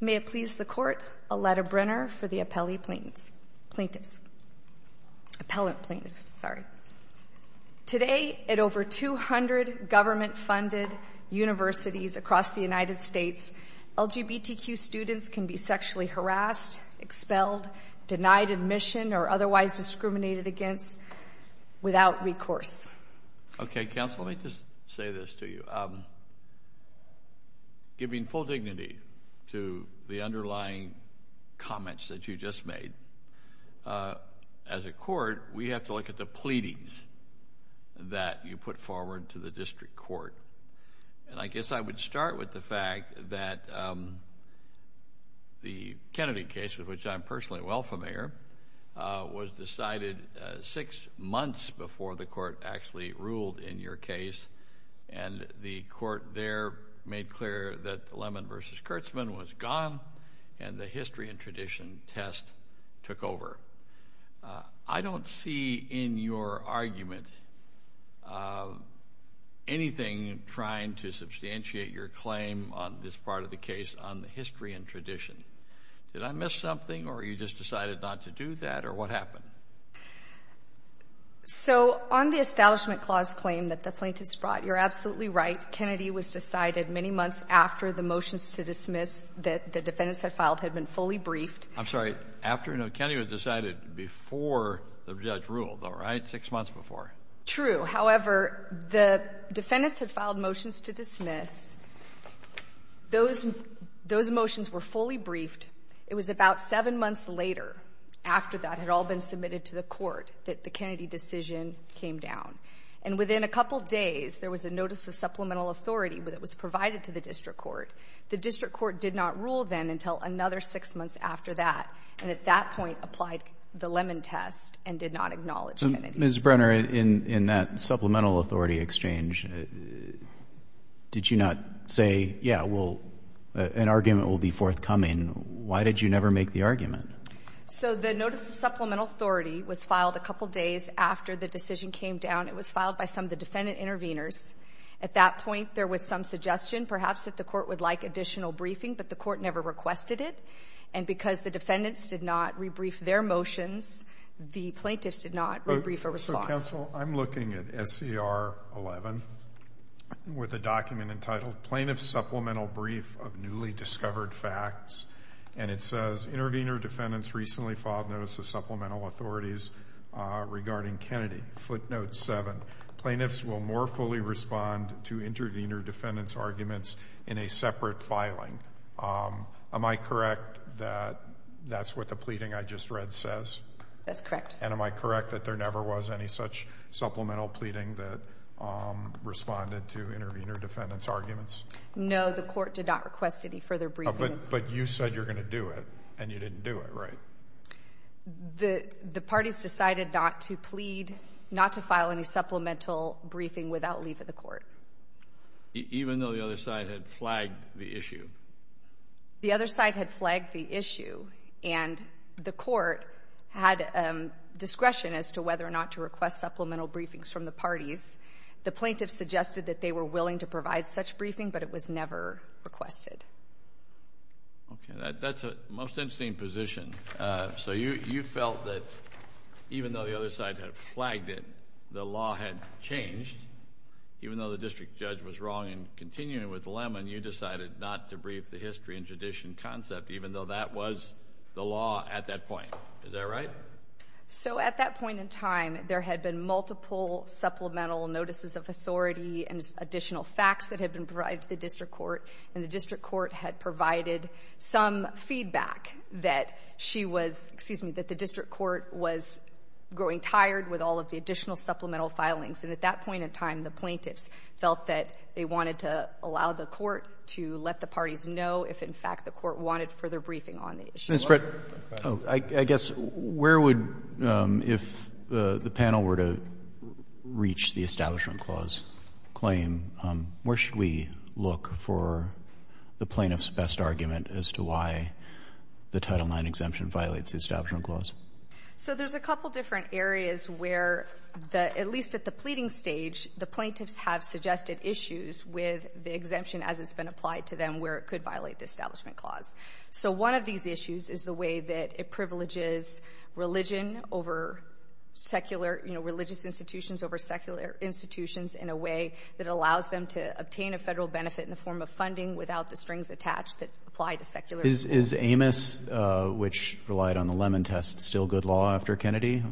May it please the Court, Aletta Brenner for the Appellate Plaintiffs. Today at over 200 government-funded universities across the United States, LGBTQ students can be sexually harassed, expelled, denied admission or otherwise discriminated against without recourse. Okay, counsel, let me just say this to you. Giving full dignity to the underlying comments that you just made, as a court, we have to look at the pleadings that you put forward to the district court, and I guess I would start with the fact that the Kennedy case, of which I'm personally well familiar, was decided six months before the court actually ruled in your case, and the court there made clear that Lemon v. Kurtzman was gone and the history and tradition test took over. I don't see in your argument anything trying to substantiate your claim on this part of the case on the history and tradition. Did I miss something, or you just decided not to do that, or what happened? So on the Establishment Clause claim that the plaintiffs brought, you're absolutely right. Kennedy was decided many months after the motions to dismiss that the defendants had filed had been fully briefed. I'm sorry. After? No, Kennedy was decided before the judge ruled, all right? Six months before. True. However, the defendants had filed motions to dismiss. Those motions were fully briefed. It was about seven months later, after that had all been submitted to the court, that the Kennedy decision came down. And within a couple days, there was a notice of supplemental authority that was provided to the district court. The district court did not rule then until another six months after that, and at that point applied the Lemon test and did not acknowledge Kennedy. Ms. Brenner, in that supplemental authority exchange, did you not say, yeah, well, an argument will be forthcoming? Why did you never make the argument? So the notice of supplemental authority was filed a couple days after the decision came down. It was filed by some of the defendant intervenors. At that point, there was some suggestion, perhaps, that the court would like additional briefing, but the court never requested it. And because the defendants did not rebrief their motions, the plaintiffs did not rebrief a response. So, counsel, I'm looking at SCR 11 with a document entitled Plaintiff's Supplemental Brief of Newly Discovered Facts, and it says, Intervenor defendants recently filed notice of supplemental authorities regarding Kennedy, footnote 7. Plaintiffs will more fully respond to intervenor defendants' arguments in a separate filing. Am I correct that that's what the pleading I just read says? That's correct. And am I correct that there never was any such supplemental pleading that responded to intervenor defendants' arguments? No, the court did not request any further briefing. But you said you're going to do it, and you didn't do it, right? The parties decided not to plead, not to file any supplemental briefing without leave of the court. Even though the other side had flagged the issue? The other side had flagged the issue, and the court had discretion as to whether or not to request supplemental briefings from the parties. The plaintiffs suggested that they were willing to provide such briefing, but it was never requested. Okay. That's a most interesting position. So you felt that even though the other side had flagged it, the law had changed. Even though the district judge was wrong in continuing with Lemmon, you decided not to brief the history and tradition concept, even though that was the law at that point. Is that right? So at that point in time, there had been multiple supplemental notices of authority and additional facts that had been provided to the district court, and the district court had provided some feedback that she was, excuse me, that the district court was growing tired with all of the additional supplemental filings. And at that point in time, the plaintiffs felt that they wanted to allow the court to let the parties know if, in fact, the court wanted further briefing on the issue. Ms. Brett, I guess, where would, if the panel were to reach the Establishment Clause claim, where should we look for the plaintiff's best argument as to why the Title IX exemption violates the Establishment Clause? So there's a couple different areas where the, at least at the pleading stage, the plaintiffs have suggested issues with the exemption as it's been applied to them where it could violate the Establishment Clause. So one of these issues is the way that it privileges religion over secular, you know, religious institutions over secular institutions in a way that allows them to obtain a federal benefit in the form of funding without the strings attached that apply to secular institutions. Is Amos, which relied on the Lemon test, still good law after Kennedy?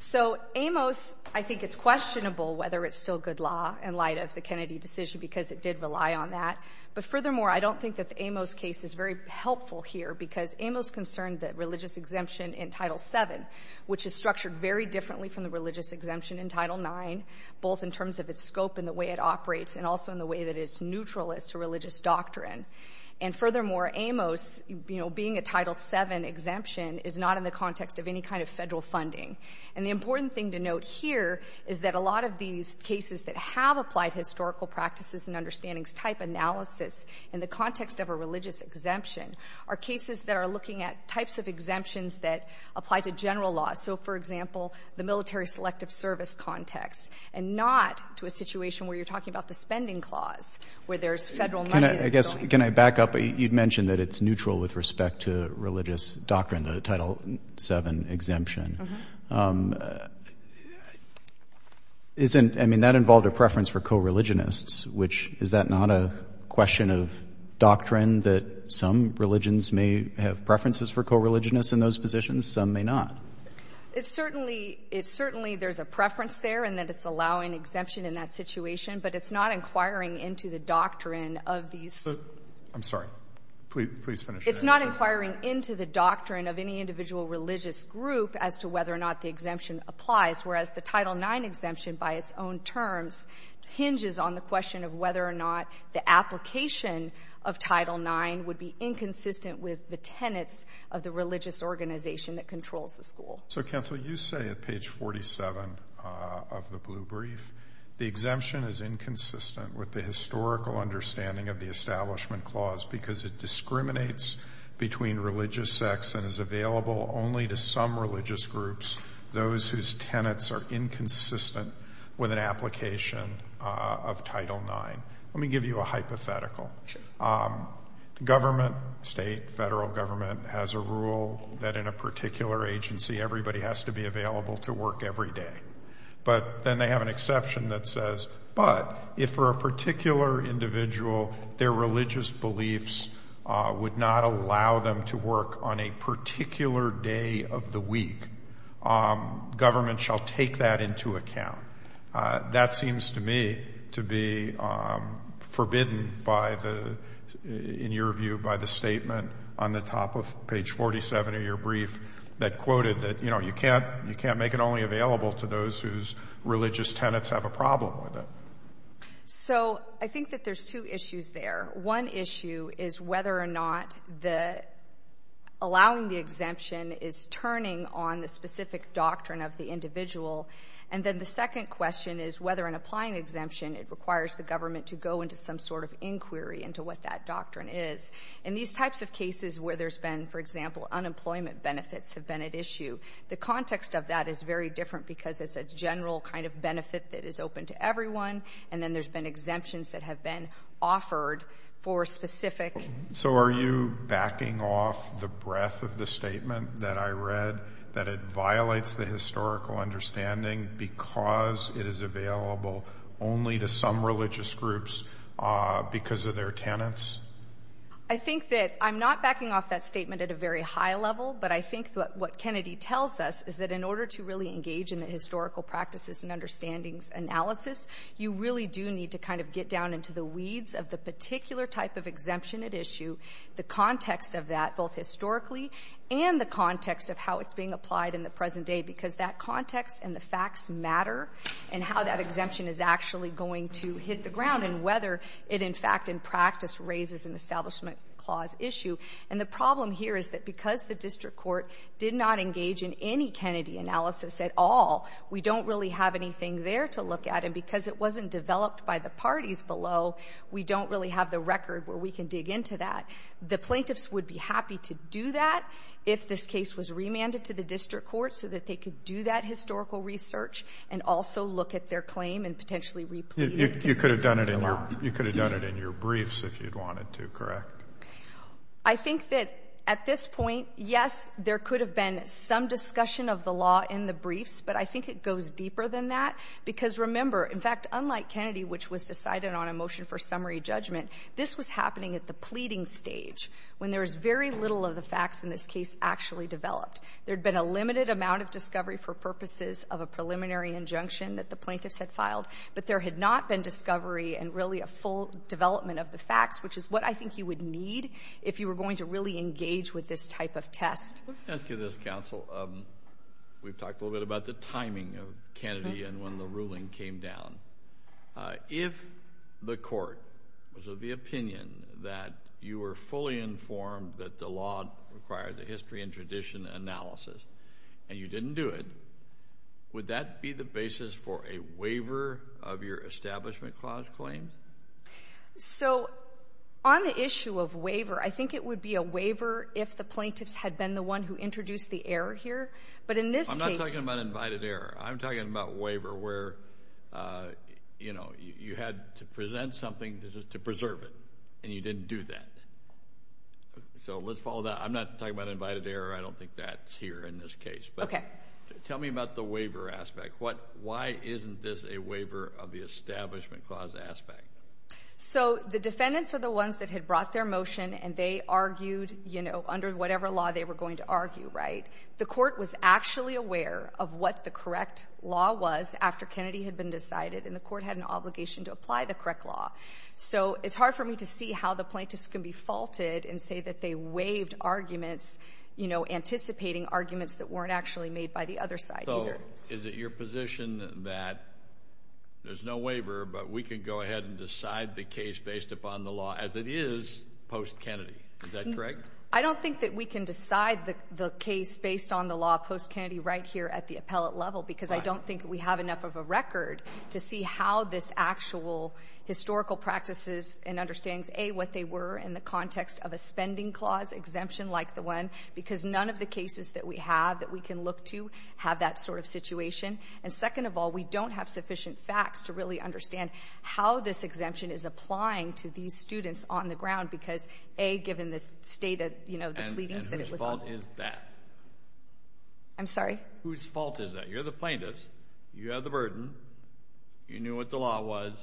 So Amos, I think it's questionable whether it's still good law in light of the Kennedy decision because it did rely on that. But furthermore, I don't think that the Amos case is very helpful here because Amos concerned that religious exemption in Title VII, which is structured very differently from the religious exemption in Title IX, both in terms of its scope and the way it operates and also in the way that it's neutral as to religious doctrine. And furthermore, Amos, you know, being a Title VII exemption is not in the context of any kind of federal funding. And the important thing to note here is that a lot of these cases that have applied historical practices and understandings type analysis in the context of a religious exemption are cases that are looking at types of exemptions that apply to general law. So, for example, the military selective service context, and not to a situation where you're talking about the Spending Clause, where there's Federal money that's going to be used to pay for military service, that's not in the context of any kind of And can I back up? You'd mentioned that it's neutral with respect to religious doctrine, the Title VII exemption. Isn't, I mean, that involved a preference for co-religionists, which, is that not a question of doctrine that some religions may have preferences for co-religionists in those positions, some may not? It's certainly, it's certainly, there's a preference there in that it's allowing exemption in that situation, but it's not inquiring into the doctrine of these So, I'm sorry, please finish your answer. It's not inquiring into the doctrine of any individual religious group as to whether or not the exemption applies, whereas the Title IX exemption, by its own terms, hinges on the question of whether or not the application of Title IX would be inconsistent with the tenets of the religious organization that controls the school. So, Counsel, you say at page 47 of the Blue Brief, the exemption is inconsistent with the historical understanding of the Establishment Clause because it discriminates between religious sects and is available only to some religious groups, those whose tenets are inconsistent with an application of Title IX. Let me give you a hypothetical. Government, state, federal government, has a rule that in a particular agency, everybody has to be available to work every day, but then they have an exception that says, but if for a particular individual, their religious beliefs would not allow them to work on a particular day of the week, government shall take that into account. That seems to me to be forbidden by the, in your view, by the statement on the top of page 47 of your brief that quoted that, you know, you can't make it only available to those whose religious tenets have a problem with it. So, I think that there's two issues there. One issue is whether or not allowing the exemption is turning on the specific doctrine of the individual. And then the second question is whether in applying the exemption, it requires the government to go into some sort of inquiry into what that doctrine is. In these types of cases where there's been, for example, unemployment benefits have been at issue, the context of that is very different because it's a general kind of benefit that is open to everyone, and then there's been exemptions that have been offered for specific. So are you backing off the breadth of the statement that I read that it violates the historical understanding because it is available only to some religious groups because of their tenets? I think that I'm not backing off that statement at a very high level, but I think that what Kennedy tells us is that in order to really engage in the historical practices and understandings analysis, you really do need to kind of get down into the weeds of the particular type of exemption at issue, the context of that, both historically and the context of how it's being applied in the present day, because that context and the facts matter, and how that exemption is actually going to hit the ground and whether it, in fact, in practice, raises an Establishment Clause issue. And the problem here is that because the district court did not engage in any Kennedy analysis at all, we don't really have anything there to look at. And because it wasn't developed by the parties below, we don't really have the record where we can dig into that. The plaintiffs would be happy to do that if this case was remanded to the district court so that they could do that historical research and also look at their claim and potentially re-plead. You could have done it in your briefs if you'd wanted to, correct? I think that at this point, yes, there could have been some discussion of the law in the briefs, but I think it goes deeper than that because, remember, in fact, unlike Kennedy, which was decided on a motion for summary judgment, this was happening at the pleading stage when there was very little of the facts in this case actually developed. There had been a limited amount of discovery for purposes of a preliminary injunction that the plaintiffs had filed, but there had not been discovery and really a full development of the facts, which is what I think you would need if you were going to really engage with this type of test. Let me ask you this, counsel. We've talked a little bit about the timing of Kennedy and when the ruling came down. If the court was of the opinion that you were fully informed that the law required the history and tradition analysis and you didn't do it, would that be the basis for a waiver of your Establishment Clause claim? So on the issue of waiver, I think it would be a waiver if the plaintiffs had been the one who introduced the error here, but in this case— I'm not talking about invited error. I'm talking about waiver where, you know, you had to present something to preserve it and you didn't do that. So let's follow that. I'm not talking about invited error. I don't think that's here in this case, but tell me about the waiver aspect. Why isn't this a waiver of the Establishment Clause aspect? So the defendants are the ones that had brought their motion and they argued, you know, under whatever law they were going to argue, right? The court was actually aware of what the correct law was after Kennedy had been decided, and the court had an obligation to apply the correct law. So it's hard for me to see how the plaintiffs can be faulted and say that they waived arguments, you know, anticipating arguments that weren't actually made by the other side either. So is it your position that there's no waiver, but we can go ahead and decide the case based upon the law as it is post-Kennedy? Is that correct? I don't think that we can decide the case based on the law post-Kennedy right here at the appellate level because I don't think we have enough of a record to see how this actual historical practices and understandings, A, what they were in the context of a spending clause exemption like the one, because none of the cases that we have that we can look to have that sort of situation. And second of all, we don't have sufficient facts to really understand how this exemption is applying to these students on the ground because, A, given the state of, you know, the pleadings that it was on. And whose fault is that? I'm sorry? Whose fault is that? You're the plaintiffs. You have the burden. You knew what the law was.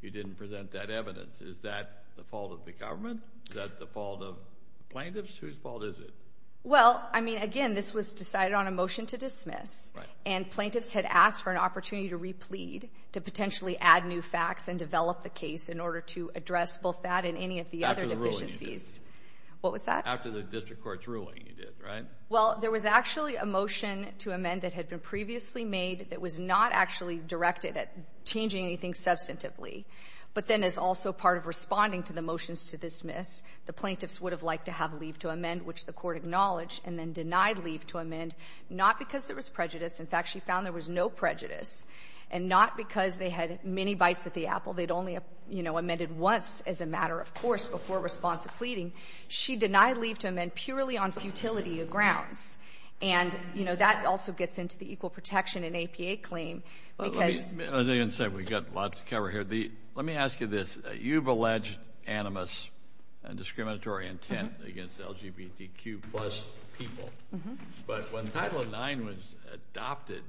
You didn't present that evidence. Is that the fault of the government? Is that the fault of the plaintiffs? Whose fault is it? Well, I mean, again, this was decided on a motion to dismiss, and plaintiffs had asked for an opportunity to replead, to potentially add new facts and develop the case in order to address both that and any of the other deficiencies. After the ruling you did. What was that? After the district court's ruling you did, right? Well, there was actually a motion to amend that had been previously made that was not actually directed at changing anything substantively. But then as also part of responding to the motions to dismiss, the plaintiffs would have liked to have leave to amend, which the court acknowledged, and then denied leave to amend, not because there was prejudice. In fact, she found there was no prejudice, and not because they had many bites at the apple. They'd only, you know, amended once as a matter of course before response to pleading. She denied leave to amend purely on futility of grounds. And, you know, that also gets into the equal protection and APA claim. Let me, as I said, we've got lots to cover here. Let me ask you this. You've alleged animus and discriminatory intent against LGBTQ plus people. But when Title IX was adopted,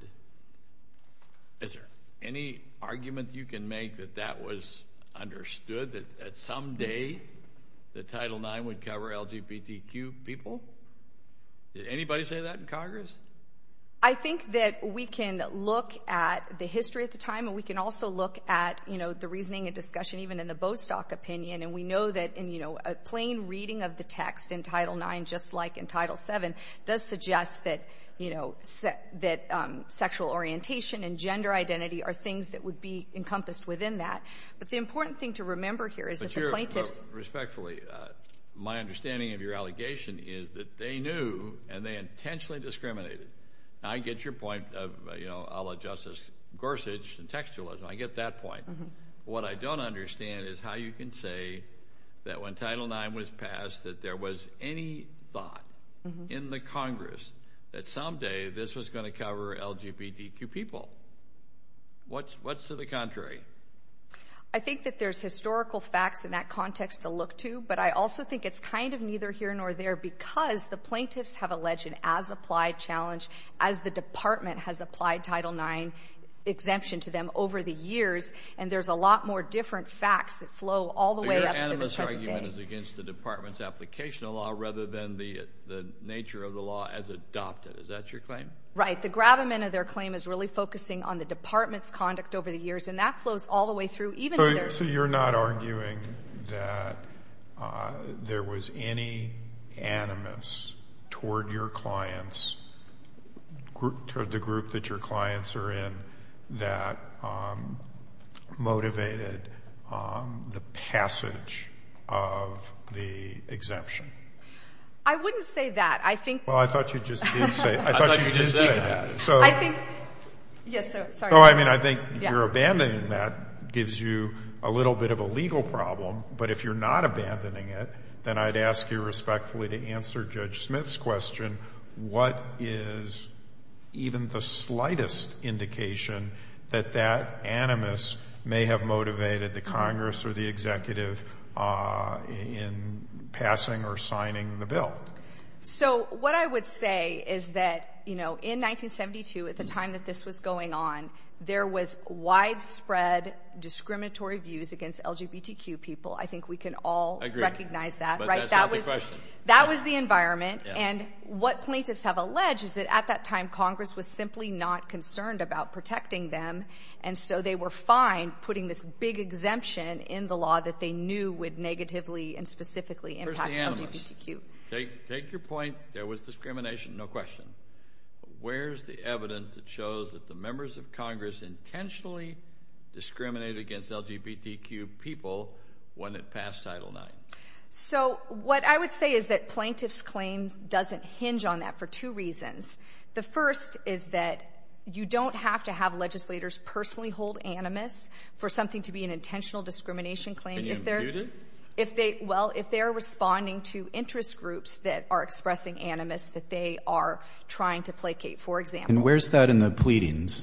is there any argument you can make that that was understood, that someday the Title IX would cover LGBTQ people? Did anybody say that in Congress? I think that we can look at the history at the time, and we can also look at, you know, the reasoning and discussion even in the Bostock opinion. And we know that, you know, a plain reading of the text in Title IX, just like in Title VII, does suggest that, you know, that sexual orientation and gender identity are things that would be encompassed within that. But the important thing to remember here is that the plaintiffs— Respectfully, my understanding of your allegation is that they knew, and they intentionally discriminated. I get your point of, you know, a la Justice Gorsuch and textualism. I get that point. What I don't understand is how you can say that when Title IX was passed that there was any thought in the Congress that someday this was going to cover LGBTQ people. What's to the contrary? I think that there's historical facts in that context to look to, but I also think it's kind of neither here nor there because the plaintiffs have alleged an as-applied challenge as the Department has applied Title IX exemption to them over the years. And there's a lot more different facts that flow all the way up to the present day. As against the Department's application of law rather than the nature of the law as adopted. Is that your claim? Right. The gravamen of their claim is really focusing on the Department's conduct over the years, and that flows all the way through even to their— So you're not arguing that there was any animus toward your clients, toward the group that your clients are in, that motivated the passage of the exemption? I wouldn't say that. I think— Well, I thought you just did say— I thought you did say that. So— I think— Yes, so, sorry. No, I mean, I think your abandoning that gives you a little bit of a legal problem, but if you're not abandoning it, then I'd ask you respectfully to answer Judge Smith's question, what is even the slightest indication that that animus may have motivated the Congress or the executive in passing or signing the bill? So, what I would say is that, you know, in 1972, at the time that this was going on, there was widespread discriminatory views against LGBTQ people. I think we can all recognize that, right? But that's not the question. That was the environment. And what plaintiffs have alleged is that at that time, Congress was simply not concerned about protecting them, and so they were fine putting this big exemption in the law that they knew would negatively and specifically impact LGBTQ. Take your point. There was discrimination, no question. Where's the evidence that shows that the members of Congress intentionally discriminated against LGBTQ people when it passed Title IX? So, what I would say is that plaintiff's claim doesn't hinge on that for two reasons. The first is that you don't have to have legislators personally hold animus for something to be an intentional discrimination claim. Can you impute it? If they, well, if they're responding to interest groups that are expressing animus that they are trying to placate, for example. And where's that in the pleadings?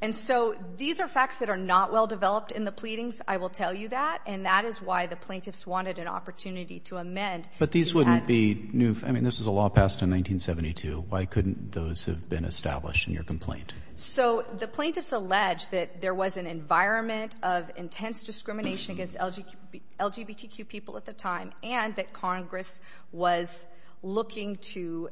And so, these are facts that are not well developed in the pleadings, I will tell you that. And that is why the plaintiffs wanted an opportunity to amend. But these wouldn't be new. I mean, this is a law passed in 1972. Why couldn't those have been established in your complaint? So, the plaintiffs allege that there was an environment of intense discrimination against LGBTQ people at the time and that Congress was looking to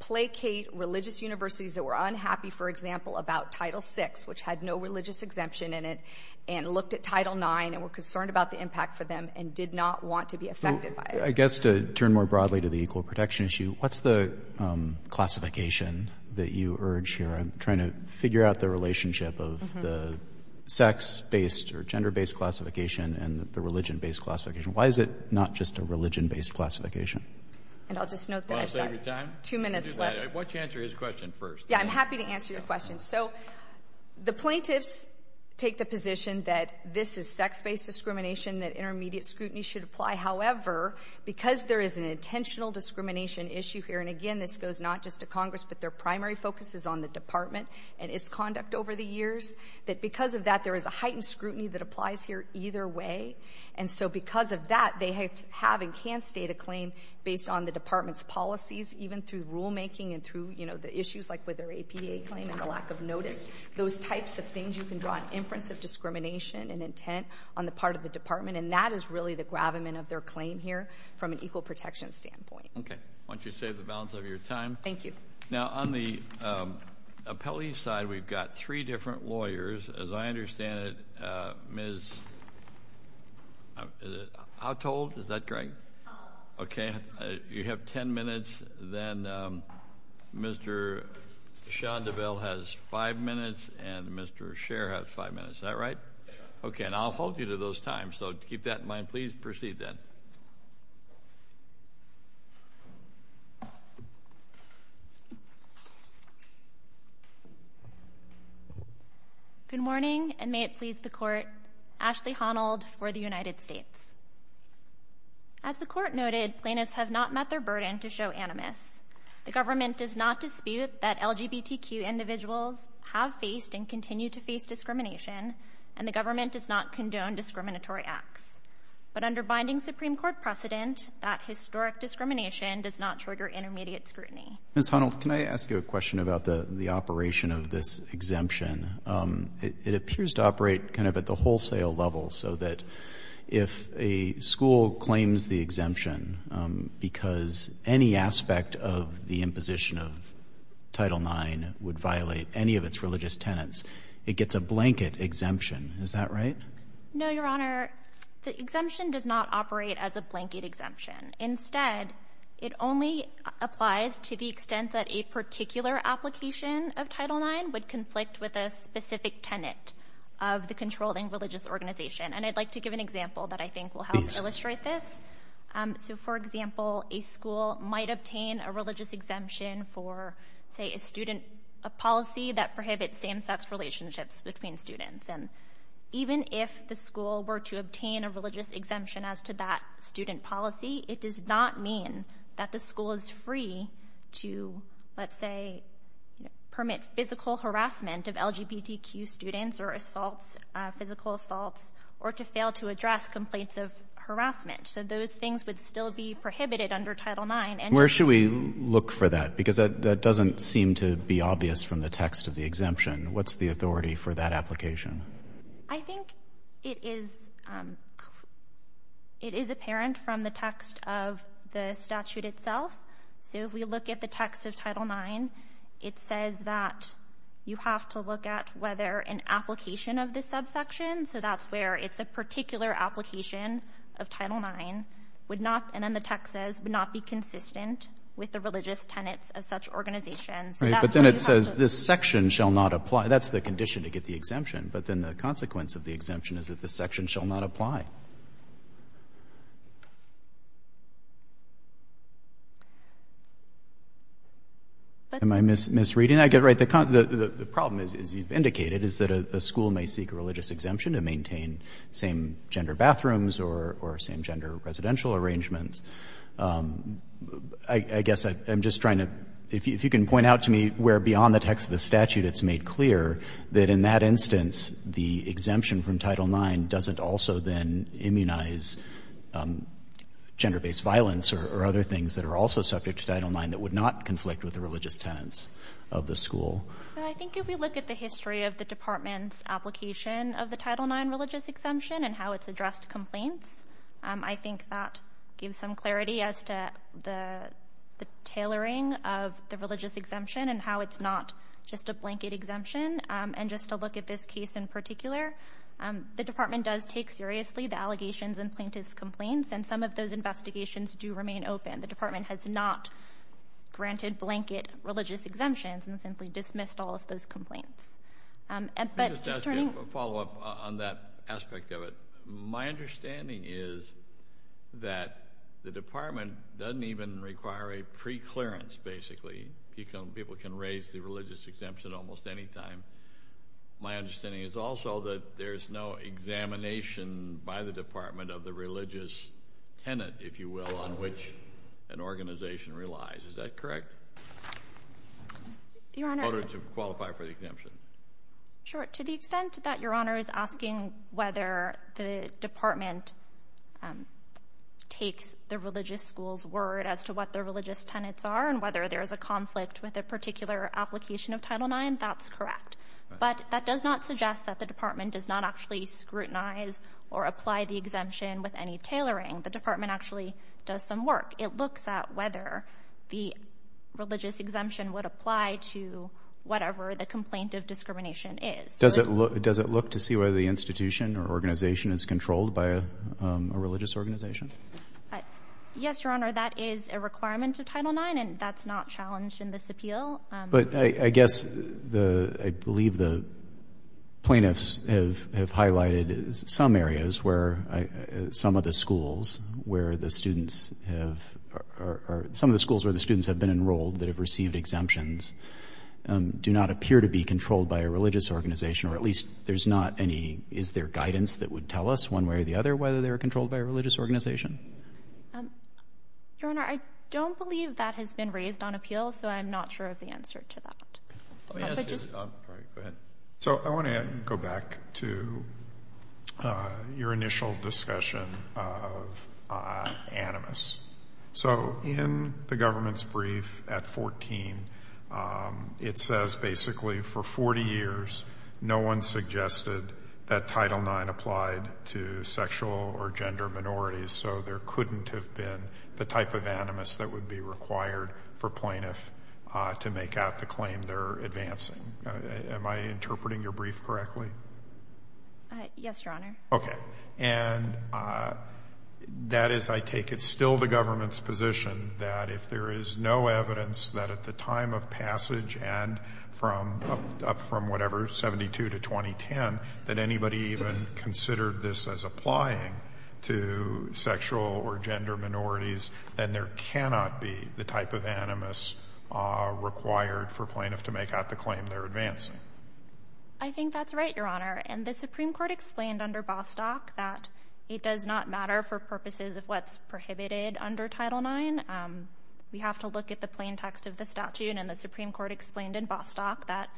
placate religious universities that were unhappy, for example, about Title VI, which had no religious exemption in it, and looked at Title IX and were concerned about the impact for them and did not want to be affected by it. I guess to turn more broadly to the equal protection issue, what's the classification that you urge here? I'm trying to figure out the relationship of the sex-based or gender-based classification and the religion-based classification. Why is it not just a religion-based classification? And I'll just note that I've got two minutes left. Why don't you answer his question first? Yeah, I'm happy to answer your question. So, the plaintiffs take the position that this is sex-based discrimination, that intermediate scrutiny should apply. However, because there is an intentional discrimination issue here, and again, this goes not just to Congress, but their primary focus is on the Department and its conduct over the years, that because of that, there is a heightened scrutiny that applies here either way. And so, because of that, they have and can state a claim based on the Department's policies, even through rulemaking and through, the issues like with their APDA claim and the lack of notice, those types of things, you can draw an inference of discrimination and intent on the part of the Department. And that is really the gravamen of their claim here from an equal protection standpoint. Okay. Why don't you save the balance of your time? Thank you. Now, on the appellee side, we've got three different lawyers. As I understand it, Ms. Autold? Is that correct? Okay, you have 10 minutes. Then, Mr. Shondaville has five minutes, and Mr. Scherer has five minutes. Is that right? Okay. And I'll hold you to those times. So, keep that in mind. Please proceed, then. Good morning, and may it please the Court. Ashley Honnold for the United States. As the Court noted, plaintiffs have not met their burden to show animus. The government does not dispute that LGBTQ individuals have faced and continue to face discrimination, and the government does not condone discriminatory acts. But under binding Supreme Court precedent, that historic discrimination does not trigger intermediate scrutiny. Ms. Honnold, can I ask you a question about the operation of this exemption? It appears to operate kind of at the wholesale level, so that if, if a school claims the exemption because any aspect of the imposition of Title IX would violate any of its religious tenets, it gets a blanket exemption. Is that right? No, Your Honor. The exemption does not operate as a blanket exemption. Instead, it only applies to the extent that a particular application of Title IX would conflict with a specific tenet of the controlling religious organization. And I'd like to give an example that I think will help illustrate this. So, for example, a school might obtain a religious exemption for, say, a student policy that prohibits same-sex relationships between students. And even if the school were to obtain a religious exemption as to that student policy, it does not mean that the school is free to, let's say, permit physical harassment of LGBTQ students or assaults, physical assaults, or to fail to address complaints of harassment. So those things would still be prohibited under Title IX. Where should we look for that? Because that doesn't seem to be obvious from the text of the exemption. What's the authority for that application? I think it is, it is apparent from the text of the statute itself. So if we look at the text of Title IX, it says that you have to look at whether an application of this subsection, so that's where it's a particular application of Title IX, would not, and then the text says, would not be consistent with the religious tenets of such organizations. So that's where you have to look. But then it says this section shall not apply. That's the condition to get the exemption. But then the consequence of the exemption is that the section shall not apply. Am I misreading that? Right. The problem, as you've indicated, is that a school may seek a religious exemption to maintain same-gender bathrooms or same-gender residential arrangements. I guess I'm just trying to, if you can point out to me where beyond the text of the statute it's made clear that in that instance the exemption from Title IX doesn't also then immunize gender-based violence or other things that are also subject to Title IX that would not conflict with the religious tenets of the school. So I think if we look at the history of the department's application of the Title IX religious exemption and how it's addressed complaints, I think that gives some clarity as to the tailoring of the religious exemption and how it's not just a blanket exemption. And just to look at this case in particular, the department does take seriously the allegations and plaintiff's complaints. And some of those investigations do remain open. The department has not granted blanket religious exemptions and simply dismissed all of those complaints. Let me just ask you a follow-up on that aspect of it. My understanding is that the department doesn't even require a preclearance, basically. People can raise the religious exemption almost any time. My understanding is also that there's no examination by the department of the religious tenet, if you will, on which an organization relies. Is that correct? Your Honor— In order to qualify for the exemption. Sure. To the extent that Your Honor is asking whether the department takes the religious school's word as to what the religious tenets are and whether there's a conflict with a particular application of Title IX, that's correct. But that does not suggest that the department does not actually scrutinize or apply the exemption with any tailoring. The department actually does some work. It looks at whether the religious exemption would apply to whatever the complaint of discrimination is. Does it look to see whether the institution or organization is controlled by a religious organization? Yes, Your Honor, that is a requirement of Title IX, and that's not challenged in this But I guess the — I believe the plaintiffs have highlighted some areas where some of the schools where the students have — some of the schools where the students have been enrolled that have received exemptions do not appear to be controlled by a religious organization, or at least there's not any — is there guidance that would tell us one way or the other whether they're controlled by a religious organization? Your Honor, I don't believe that has been raised on appeal, so I'm not sure of the answer to that. Let me ask you — sorry, go ahead. So I want to go back to your initial discussion of animus. So in the government's brief at 14, it says basically for 40 years no one suggested that Title IX applied to sexual or gender minorities, so there couldn't have been the type of animus that would be required for plaintiff to make out the claim they're advancing. Am I interpreting your brief correctly? Yes, Your Honor. Okay. And that is, I take it, still the government's position that if there is no evidence that the time of passage and from — up from whatever, 72 to 2010, that anybody even considered this as applying to sexual or gender minorities, then there cannot be the type of animus required for plaintiff to make out the claim they're advancing. I think that's right, Your Honor. And the Supreme Court explained under Bostock that it does not matter for purposes of what's prohibited under Title IX. We have to look at the plain text of the statute. And the Supreme Court explained in Bostock that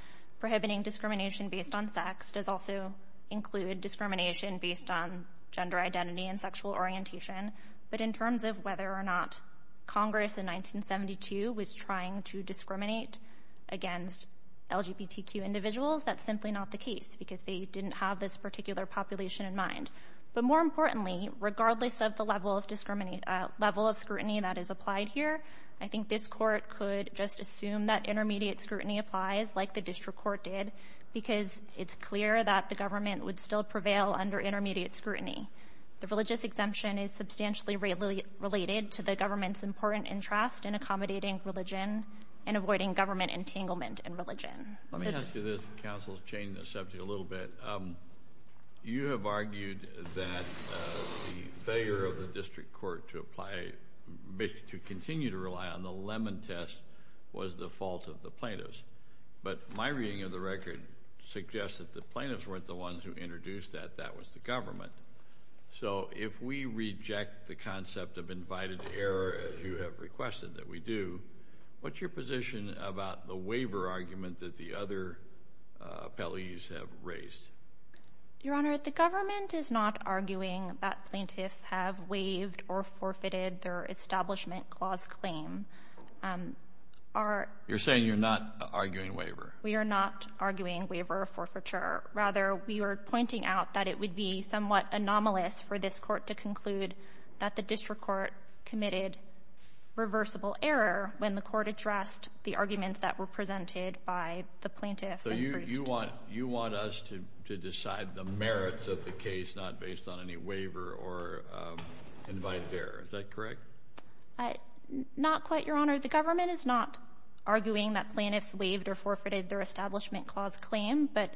prohibiting discrimination based on sex does also include discrimination based on gender identity and sexual orientation. But in terms of whether or not Congress in 1972 was trying to discriminate against LGBTQ individuals, that's simply not the case because they didn't have this particular population in mind. But more importantly, regardless of the level of scrutiny that is applied here, I think this Court could just assume that intermediate scrutiny applies, like the district court did, because it's clear that the government would still prevail under intermediate scrutiny. The religious exemption is substantially related to the government's important interest in accommodating religion and avoiding government entanglement in religion. Let me ask you this. The counsel's changing the subject a little bit. You have argued that the failure of the district court to apply, to continue to rely on the Lemon Test was the fault of the plaintiffs. But my reading of the record suggests that the plaintiffs weren't the ones who introduced that. That was the government. So if we reject the concept of invited error, as you have requested that we do, what's your position about the waiver argument that the other appellees have raised? Your Honor, the government is not arguing that plaintiffs have waived or forfeited their Establishment Clause claim. You're saying you're not arguing waiver? We are not arguing waiver or forfeiture. Rather, we are pointing out that it would be somewhat anomalous for this Court to conclude that the district court committed reversible error when the Court addressed the arguments that were presented by the plaintiffs. So you want us to decide the merits of the case, not based on any waiver or invite error. Is that correct? Not quite, Your Honor. The government is not arguing that plaintiffs waived or forfeited their Establishment Clause claim. But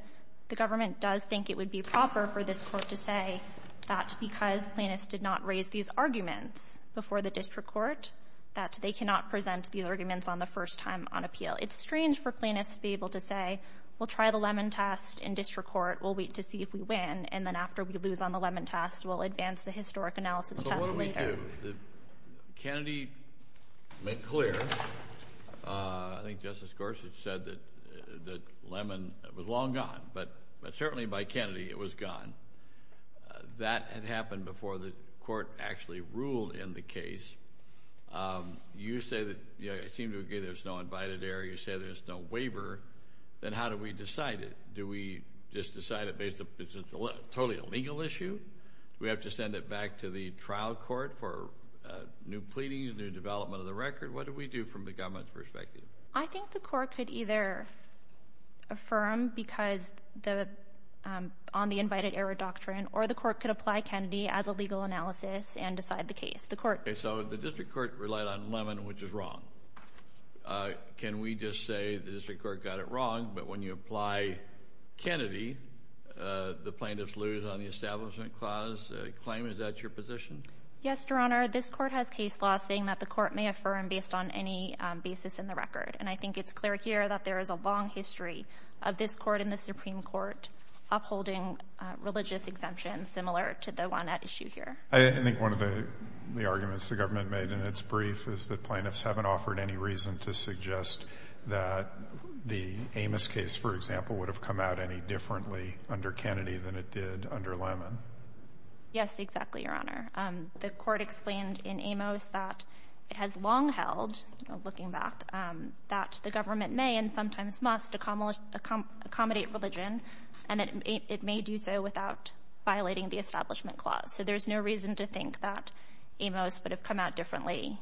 the government does think it would be proper for this Court to say that because plaintiffs did not raise these arguments before the district court, that they cannot present these arguments on the first time on appeal. It's strange for plaintiffs to be able to say, we'll try the Lemon test in district court, we'll wait to see if we win, and then after we lose on the Lemon test, we'll advance the historic analysis test later. So what do we do? Kennedy made clear, I think Justice Gorsuch said that Lemon was long gone, but certainly by Kennedy, it was gone. That had happened before the Court actually ruled in the case. You say that there's no invited error, you say there's no waiver, then how do we decide it? Do we just decide it based on it's totally a legal issue? Do we have to send it back to the trial court for new pleadings, new development of the record? What do we do from the government's perspective? I think the Court could either affirm because on the invited error doctrine, or the Court could apply Kennedy as a legal analysis and decide the case. So the district court relied on Lemon, which is wrong. Can we just say the district court got it wrong, but when you apply Kennedy, the plaintiffs lose on the establishment clause claim? Is that your position? Yes, Your Honor. This Court has case law saying that the Court may affirm based on any basis in the record. And I think it's clear here that there is a long history of this Court and the Supreme Court upholding religious exemptions similar to the one at issue here. I think one of the arguments the government made in its brief is that plaintiffs haven't offered any reason to suggest that the Amos case, for example, would have come out any differently under Kennedy than it did under Lemon. Yes, exactly, Your Honor. The Court explained in Amos that it has long held, looking back, that the government may and sometimes must accommodate religion, and that it may do so without violating the establishment clause. So there's no reason to think that Amos would have come out differently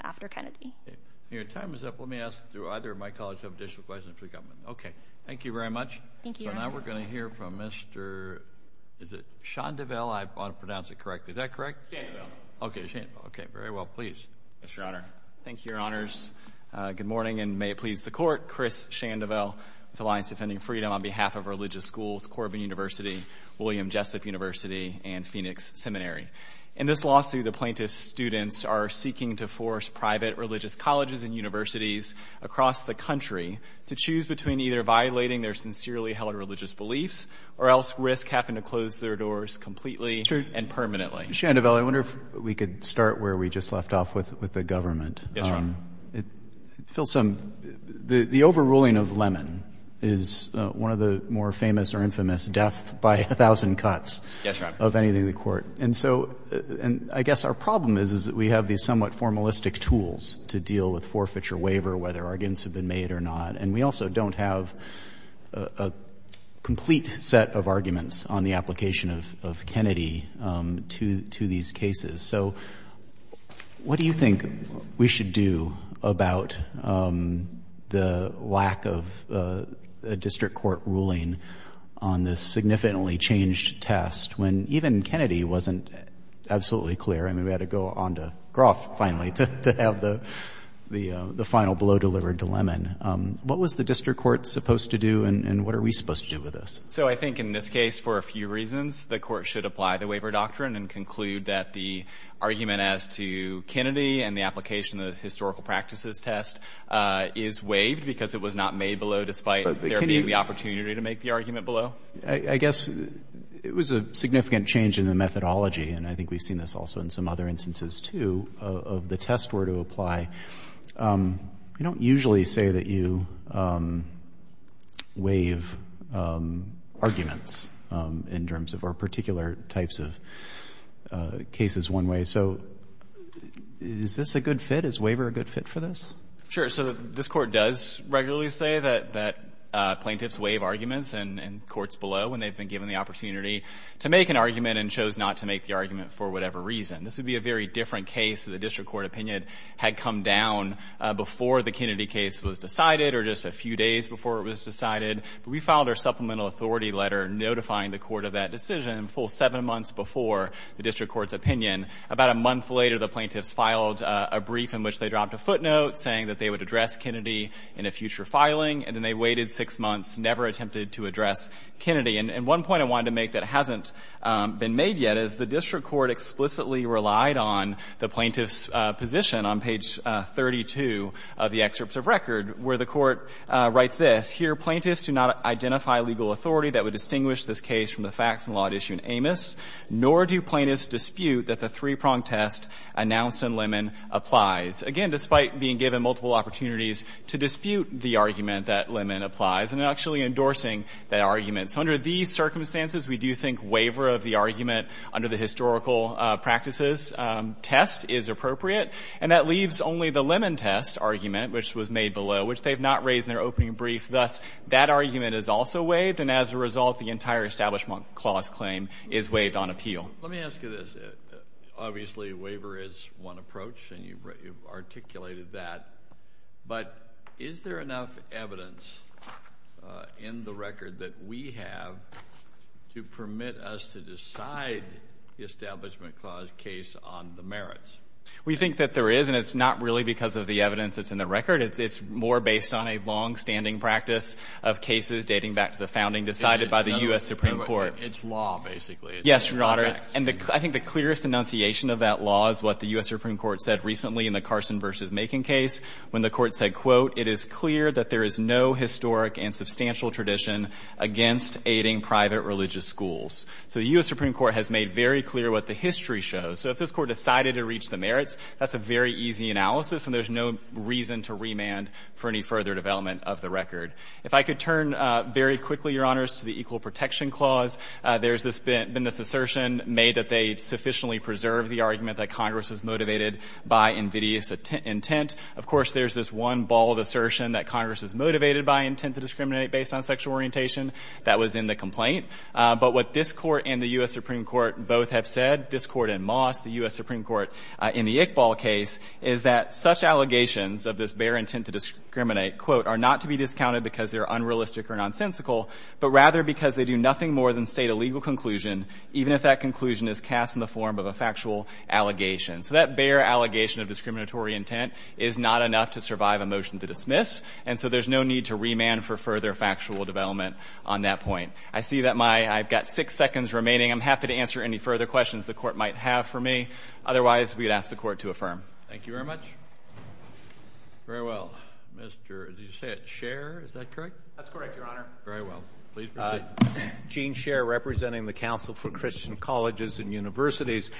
after Kennedy. Okay. Your time is up. Let me ask, do either of my colleagues have additional questions for the government? Okay. Thank you very much. Thank you, Your Honor. So now we're going to hear from Mr. Is it Chandeville? I want to pronounce it correctly. Is that correct? Chandeville. Okay, Chandeville. Okay, very well. Please. Yes, Your Honor. Thank you, Your Honors. Good morning, and may it please the Court. Chris Chandeville with Alliance Defending Freedom on behalf of Religious Schools, Corbin University, William Jessup University, and Phoenix Seminary. In this lawsuit, the plaintiff's students are seeking to force private religious colleges and universities across the country to choose between either violating their sincerely held religious beliefs or else risk having to close their doors completely and permanently. Chandeville, I wonder if we could start where we just left off with the government. Yes, Your Honor. Phil, the overruling of Lemon is one of the more famous or infamous death-by-a-thousand cuts of anything in the Court. And so I guess our problem is, is that we have these somewhat formalistic tools to deal with forfeiture waiver, whether arguments have been made or not. And we also don't have a complete set of arguments on the application of Kennedy to these cases. So what do you think we should do about the lack of a district court ruling on this significantly changed test when even Kennedy wasn't absolutely clear? I mean, we had to go on to Groff finally to have the final blow delivered to Lemon. What was the district court supposed to do, and what are we supposed to do with this? So I think in this case, for a few reasons, the Court should apply the waiver doctrine and conclude that the argument as to Kennedy and the application of the historical practices test is waived because it was not made below, despite there being the opportunity to make the argument below. I guess it was a significant change in the methodology, and I think we've seen this also in some other instances, too, of the test were to apply. We don't usually say that you waive arguments in terms of our particular types of cases one way. So is this a good fit? Is waiver a good fit for this? Sure. So this Court does regularly say that plaintiffs waive arguments in courts below when they've been given the opportunity to make an argument and chose not to make the argument for whatever reason. This would be a very different case if the district court opinion had come down before the Kennedy case was decided or just a few days before it was decided. But we filed our supplemental authority letter notifying the court of that decision a full seven months before the district court's opinion. About a month later, the plaintiffs filed a brief in which they dropped a footnote saying that they would address Kennedy in a future filing, and then they waited six months, never attempted to address Kennedy. And one point I wanted to make that hasn't been made yet is the district court explicitly relied on the plaintiffs' position on page 32 of the excerpts of record, where the Court writes this. Here, plaintiffs do not identify legal authority that would distinguish this case from the facts and law at issue in Amos, nor do plaintiffs dispute that the three-prong test announced in Lemon applies, again, despite being given multiple opportunities to dispute the argument that Lemon applies and actually endorsing that argument. So under these circumstances, we do think waiver of the argument under the historical practices test is appropriate, and that leaves only the Lemon test argument, which was made below, which they have not raised in their opening brief. Thus, that argument is also waived, and as a result, the entire Establishment Clause claim is waived on appeal. Let me ask you this. Obviously, waiver is one approach, and you've articulated that. But is there enough evidence in the record that we have to permit us to decide the Establishment Clause case on the merits? We think that there is, and it's not really because of the evidence that's in the record. It's more based on a longstanding practice of cases dating back to the founding decided by the U.S. Supreme Court. It's law, basically. Yes, Your Honor. And I think the clearest enunciation of that law is what the U.S. Supreme Court said recently in the Carson v. Macon case, when the Court said, quote, it is clear that there is no historic and substantial tradition against aiding private religious schools. So the U.S. Supreme Court has made very clear what the history shows. So if this Court decided to reach the merits, that's a very easy analysis, and there's no reason to remand for any further development of the record. If I could turn very quickly, Your Honors, to the Equal Protection Clause, there has been this assertion made that they sufficiently preserved the argument that Congress was motivated by invidious intent. Of course, there's this one bald assertion that Congress was motivated by intent to discriminate based on sexual orientation. That was in the complaint. But what this Court and the U.S. Supreme Court both have said, this Court in Moss, the U.S. Supreme Court in the Iqbal case, is that such allegations of this bare intent to discriminate, quote, are not to be discounted because they're unrealistic or nonsensical, but rather because they do nothing more than state a legal conclusion, even if that conclusion is cast in the form of a factual allegation. So that bare allegation of discriminatory intent is not enough to survive a motion to dismiss, and so there's no need to remand for further factual development on that point. I see that my — I've got six seconds remaining. I'm happy to answer any further questions the Court might have for me. Otherwise, we would ask the Court to affirm. Thank you very much. Very well. Mr. — did you say it — Sherr, is that correct? That's correct, Your Honor. Very well. Please proceed. Gene Sherr, representing the Council for Christian Colleges and Universities.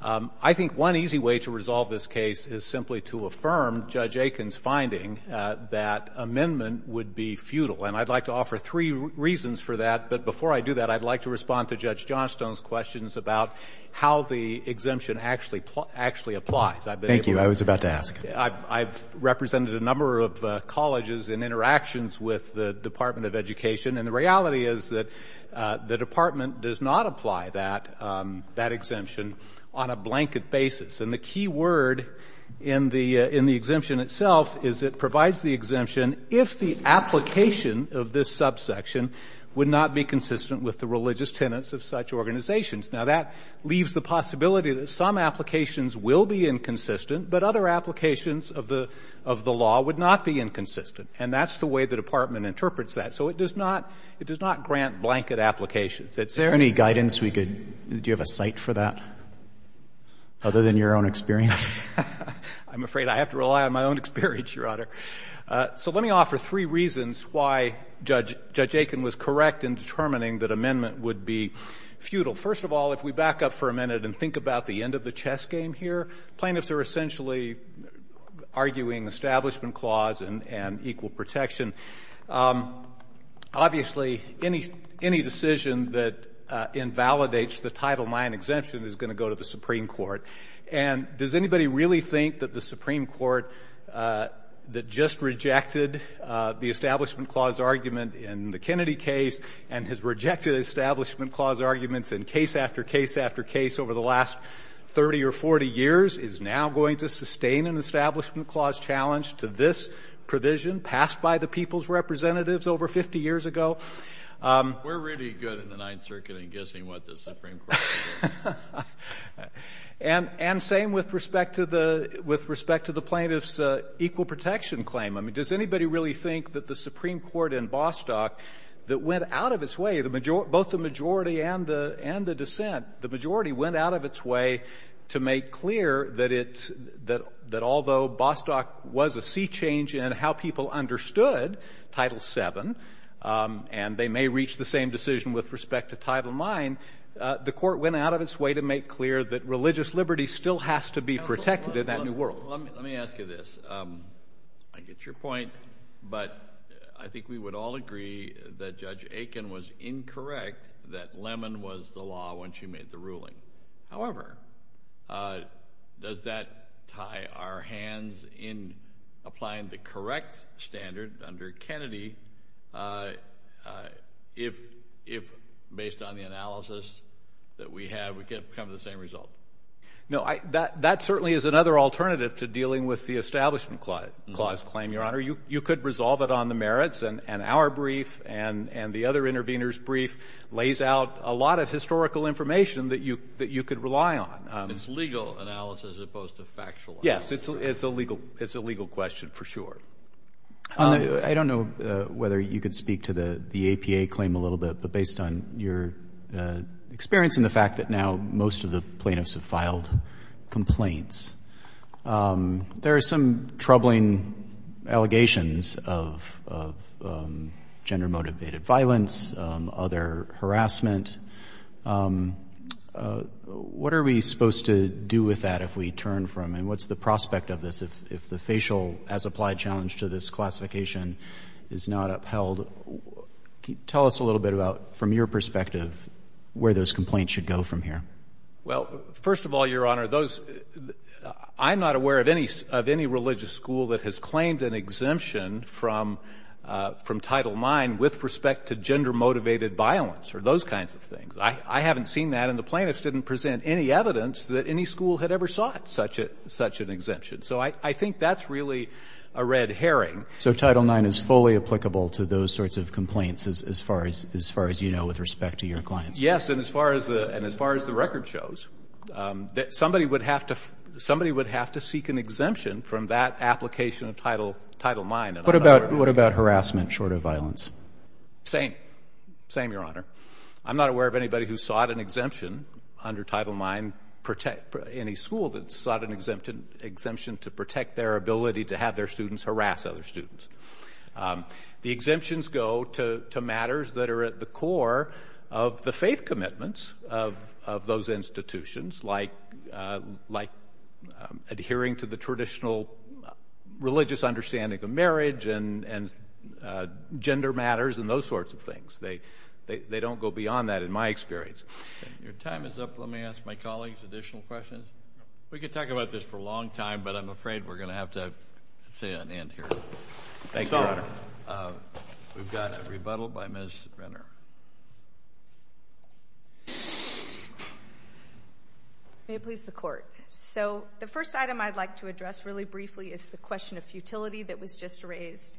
I think one easy way to resolve this case is simply to affirm Judge Aiken's finding that amendment would be futile. And I'd like to offer three reasons for that, but before I do that, I'd like to respond to Judge Johnstone's questions about how the exemption actually applies. Thank you. I was about to ask. I've represented a number of colleges in interactions with the Department of Education, and the reality is that the Department does not apply that exemption on a blanket basis. And the key word in the exemption itself is it provides the exemption if the application of this subsection would not be consistent with the religious tenets of such organizations. Now, that leaves the possibility that some applications will be inconsistent, but other applications of the law would not be inconsistent. And that's the way the Department interprets that. So it does not grant blanket applications. Is there any guidance we could — do you have a cite for that, other than your own experience? I'm afraid I have to rely on my own experience, Your Honor. So let me offer three reasons why Judge Aiken was correct in determining that amendment would be futile. First of all, if we back up for a minute and think about the end of the chess game here, plaintiffs are essentially arguing establishment clause and equal protection. Obviously, any decision that invalidates the Title IX exemption is going to go to the Supreme Court. And does anybody really think that the Supreme Court that just rejected the establishment clause argument in the Kennedy case and has rejected establishment clause arguments in case after case after case over the last 30 or 40 years is now going to sustain an establishment clause challenge to this provision passed by the people's representatives over 50 years ago? We're really good in the Ninth Circuit in guessing what the Supreme Court is going to And same with respect to the — with respect to the plaintiff's equal protection claim. I mean, does anybody really think that the Supreme Court in Bostock that went out of its way, the majority — both the majority and the — and the dissent, the majority went out of its way to make clear that it's — that although Bostock was a sea change in how people understood Title VII, and they may reach the same decision with respect to Title IX, the court went out of its way to make clear that religious liberty still has to be protected in that new world. Let me ask you this. I get your point, but I think we would all agree that Judge Aiken was incorrect that Lemon was the law when she made the ruling. However, does that tie our hands in applying the correct standard under Kennedy if, based on the analysis that we have, we come to the same result? No, that certainly is another alternative to dealing with the establishment clause claim, You could resolve it on the merits, and our brief and the other interveners' brief lays out a lot of historical information that you — that you could rely on. It's legal analysis as opposed to factual analysis. Yes. It's a legal — it's a legal question, for sure. I don't know whether you could speak to the APA claim a little bit, but based on your experience and the fact that now most of the plaintiffs have filed complaints, there are some troubling allegations of gender-motivated violence, other harassment. What are we supposed to do with that if we turn from — and what's the prospect of this if the facial as-applied challenge to this classification is not upheld? Tell us a little bit about, from your perspective, where those complaints should go from here. Well, first of all, Your Honor, those — I'm not aware of any — of any religious school that has claimed an exemption from Title IX with respect to gender-motivated violence or those kinds of things. I haven't seen that, and the plaintiffs didn't present any evidence that any school had ever sought such a — such an exemption. So I think that's really a red herring. So Title IX is fully applicable to those sorts of complaints as far as — as far as you know with respect to your clients? Yes, and as far as the — and as far as the record shows, somebody would have to — somebody would have to seek an exemption from that application of Title IX. What about — what about harassment short of violence? Same. Same, Your Honor. I'm not aware of anybody who sought an exemption under Title IX, any school that sought an exemption to protect their ability to have their students harass other students. The exemptions go to matters that are at the core of the faith commitments of those institutions, like — like adhering to the traditional religious understanding of marriage and gender matters and those sorts of things. They don't go beyond that, in my experience. Your time is up. Let me ask my colleagues additional questions. We could talk about this for a long time, but I'm afraid we're going to have to say an end here. Thank you. Yes, Your Honor. We've got a rebuttal by Ms. Renner. May it please the Court. So, the first item I'd like to address really briefly is the question of futility that was just raised.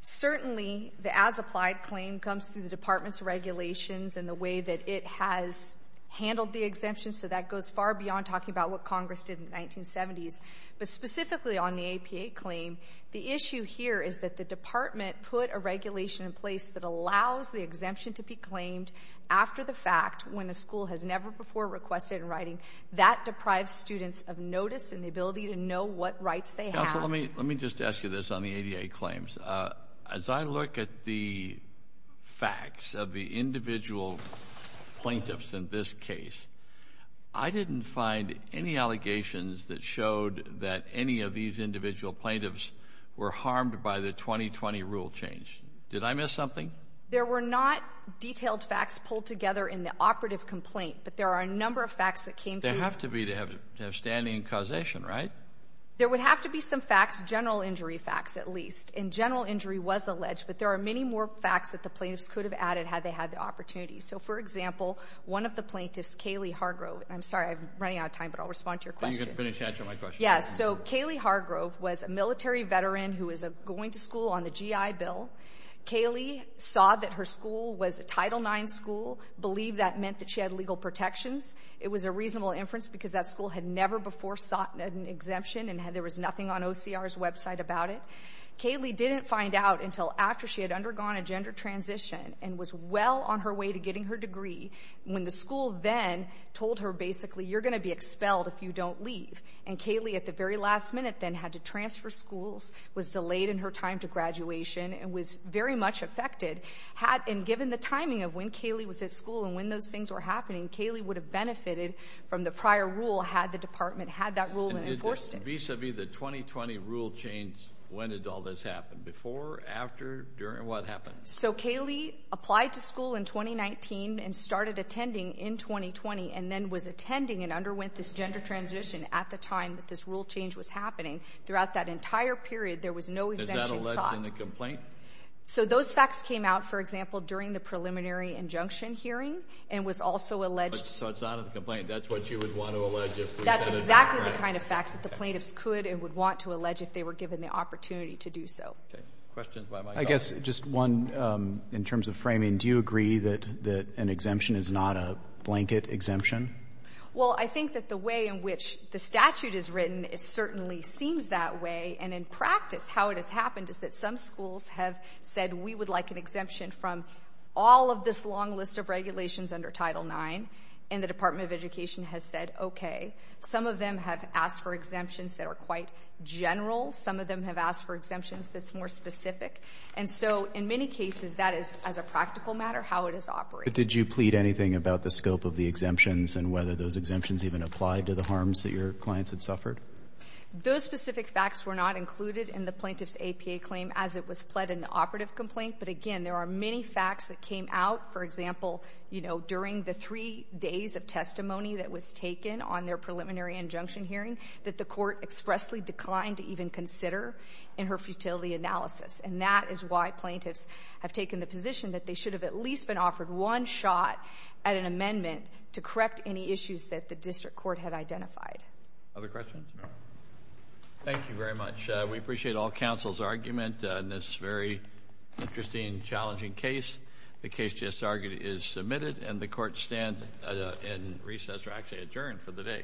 Certainly, the as-applied claim comes through the Department's regulations and the way that it has handled the exemption, so that goes far beyond talking about what Congress did in the 1970s. But specifically on the APA claim, the issue here is that the Department put a regulation in place that allows the exemption to be claimed after the fact, when a school has never before requested in writing. That deprives students of notice and the ability to know what rights they have. Counsel, let me — let me just ask you this on the ADA claims. As I look at the facts of the individual plaintiffs in this case, I didn't find any allegations that showed that any of these individual plaintiffs were harmed by the 2020 rule change. Did I miss something? There were not detailed facts pulled together in the operative complaint, but there are a number of facts that came through. There have to be to have standing causation, right? There would have to be some facts, general injury facts at least, and general injury was alleged, but there are many more facts that the plaintiffs could have added had they had the opportunity. So, for example, one of the plaintiffs, Kaylee Hargrove — I'm sorry, I'm running out of time, but I'll respond to your question. Then you can finish answering my question. Yes. So Kaylee Hargrove was a military veteran who was going to school on the GI Bill. Kaylee saw that her school was a Title IX school, believed that meant that she had legal protections. It was a reasonable inference because that school had never before sought an exemption and there was nothing on OCR's website about it. Kaylee didn't find out until after she had undergone a gender transition and was well on her way to getting her degree, when the school then told her, basically, you're going to be expelled if you don't leave. And Kaylee at the very last minute then had to transfer schools, was delayed in her time to graduation, and was very much affected. And given the timing of when Kaylee was at school and when those things were happening, Kaylee would have benefited from the prior rule had the department had that rule and enforced it. And vis-a-vis the 2020 rule change, when did all this happen? Before, after, during? What happened? So Kaylee applied to school in 2019 and started attending in 2020 and then was attending in 2020 and underwent this gender transition at the time that this rule change was happening. Throughout that entire period, there was no exemption sought. Is that alleged in the complaint? So those facts came out, for example, during the preliminary injunction hearing and was also alleged. So it's not in the complaint. That's what you would want to allege if we get a new grant. That's exactly the kind of facts that the plaintiffs could and would want to allege if they were given the opportunity to do so. Okay. Questions by my colleagues. I guess just one in terms of framing. Do you agree that an exemption is not a blanket exemption? Well, I think that the way in which the statute is written, it certainly seems that way. And in practice, how it has happened is that some schools have said, we would like an exemption from all of this long list of regulations under Title IX. And the Department of Education has said, okay. Some of them have asked for exemptions that are quite general. Some of them have asked for exemptions that's more specific. And so in many cases, that is, as a practical matter, how it is operating. But did you plead anything about the scope of the exemptions and whether those exemptions even apply to the harms that your clients had suffered? Those specific facts were not included in the plaintiff's APA claim as it was pled in the operative complaint. But again, there are many facts that came out, for example, you know, during the three days of testimony that was taken on their preliminary injunction hearing that the court expressly declined to even consider in her futility analysis. And that is why plaintiffs have taken the position that they should have at least been one shot at an amendment to correct any issues that the district court had identified. Other questions? Thank you very much. We appreciate all counsel's argument on this very interesting, challenging case. The case just argued is submitted and the court stands in recess or actually adjourned for the day.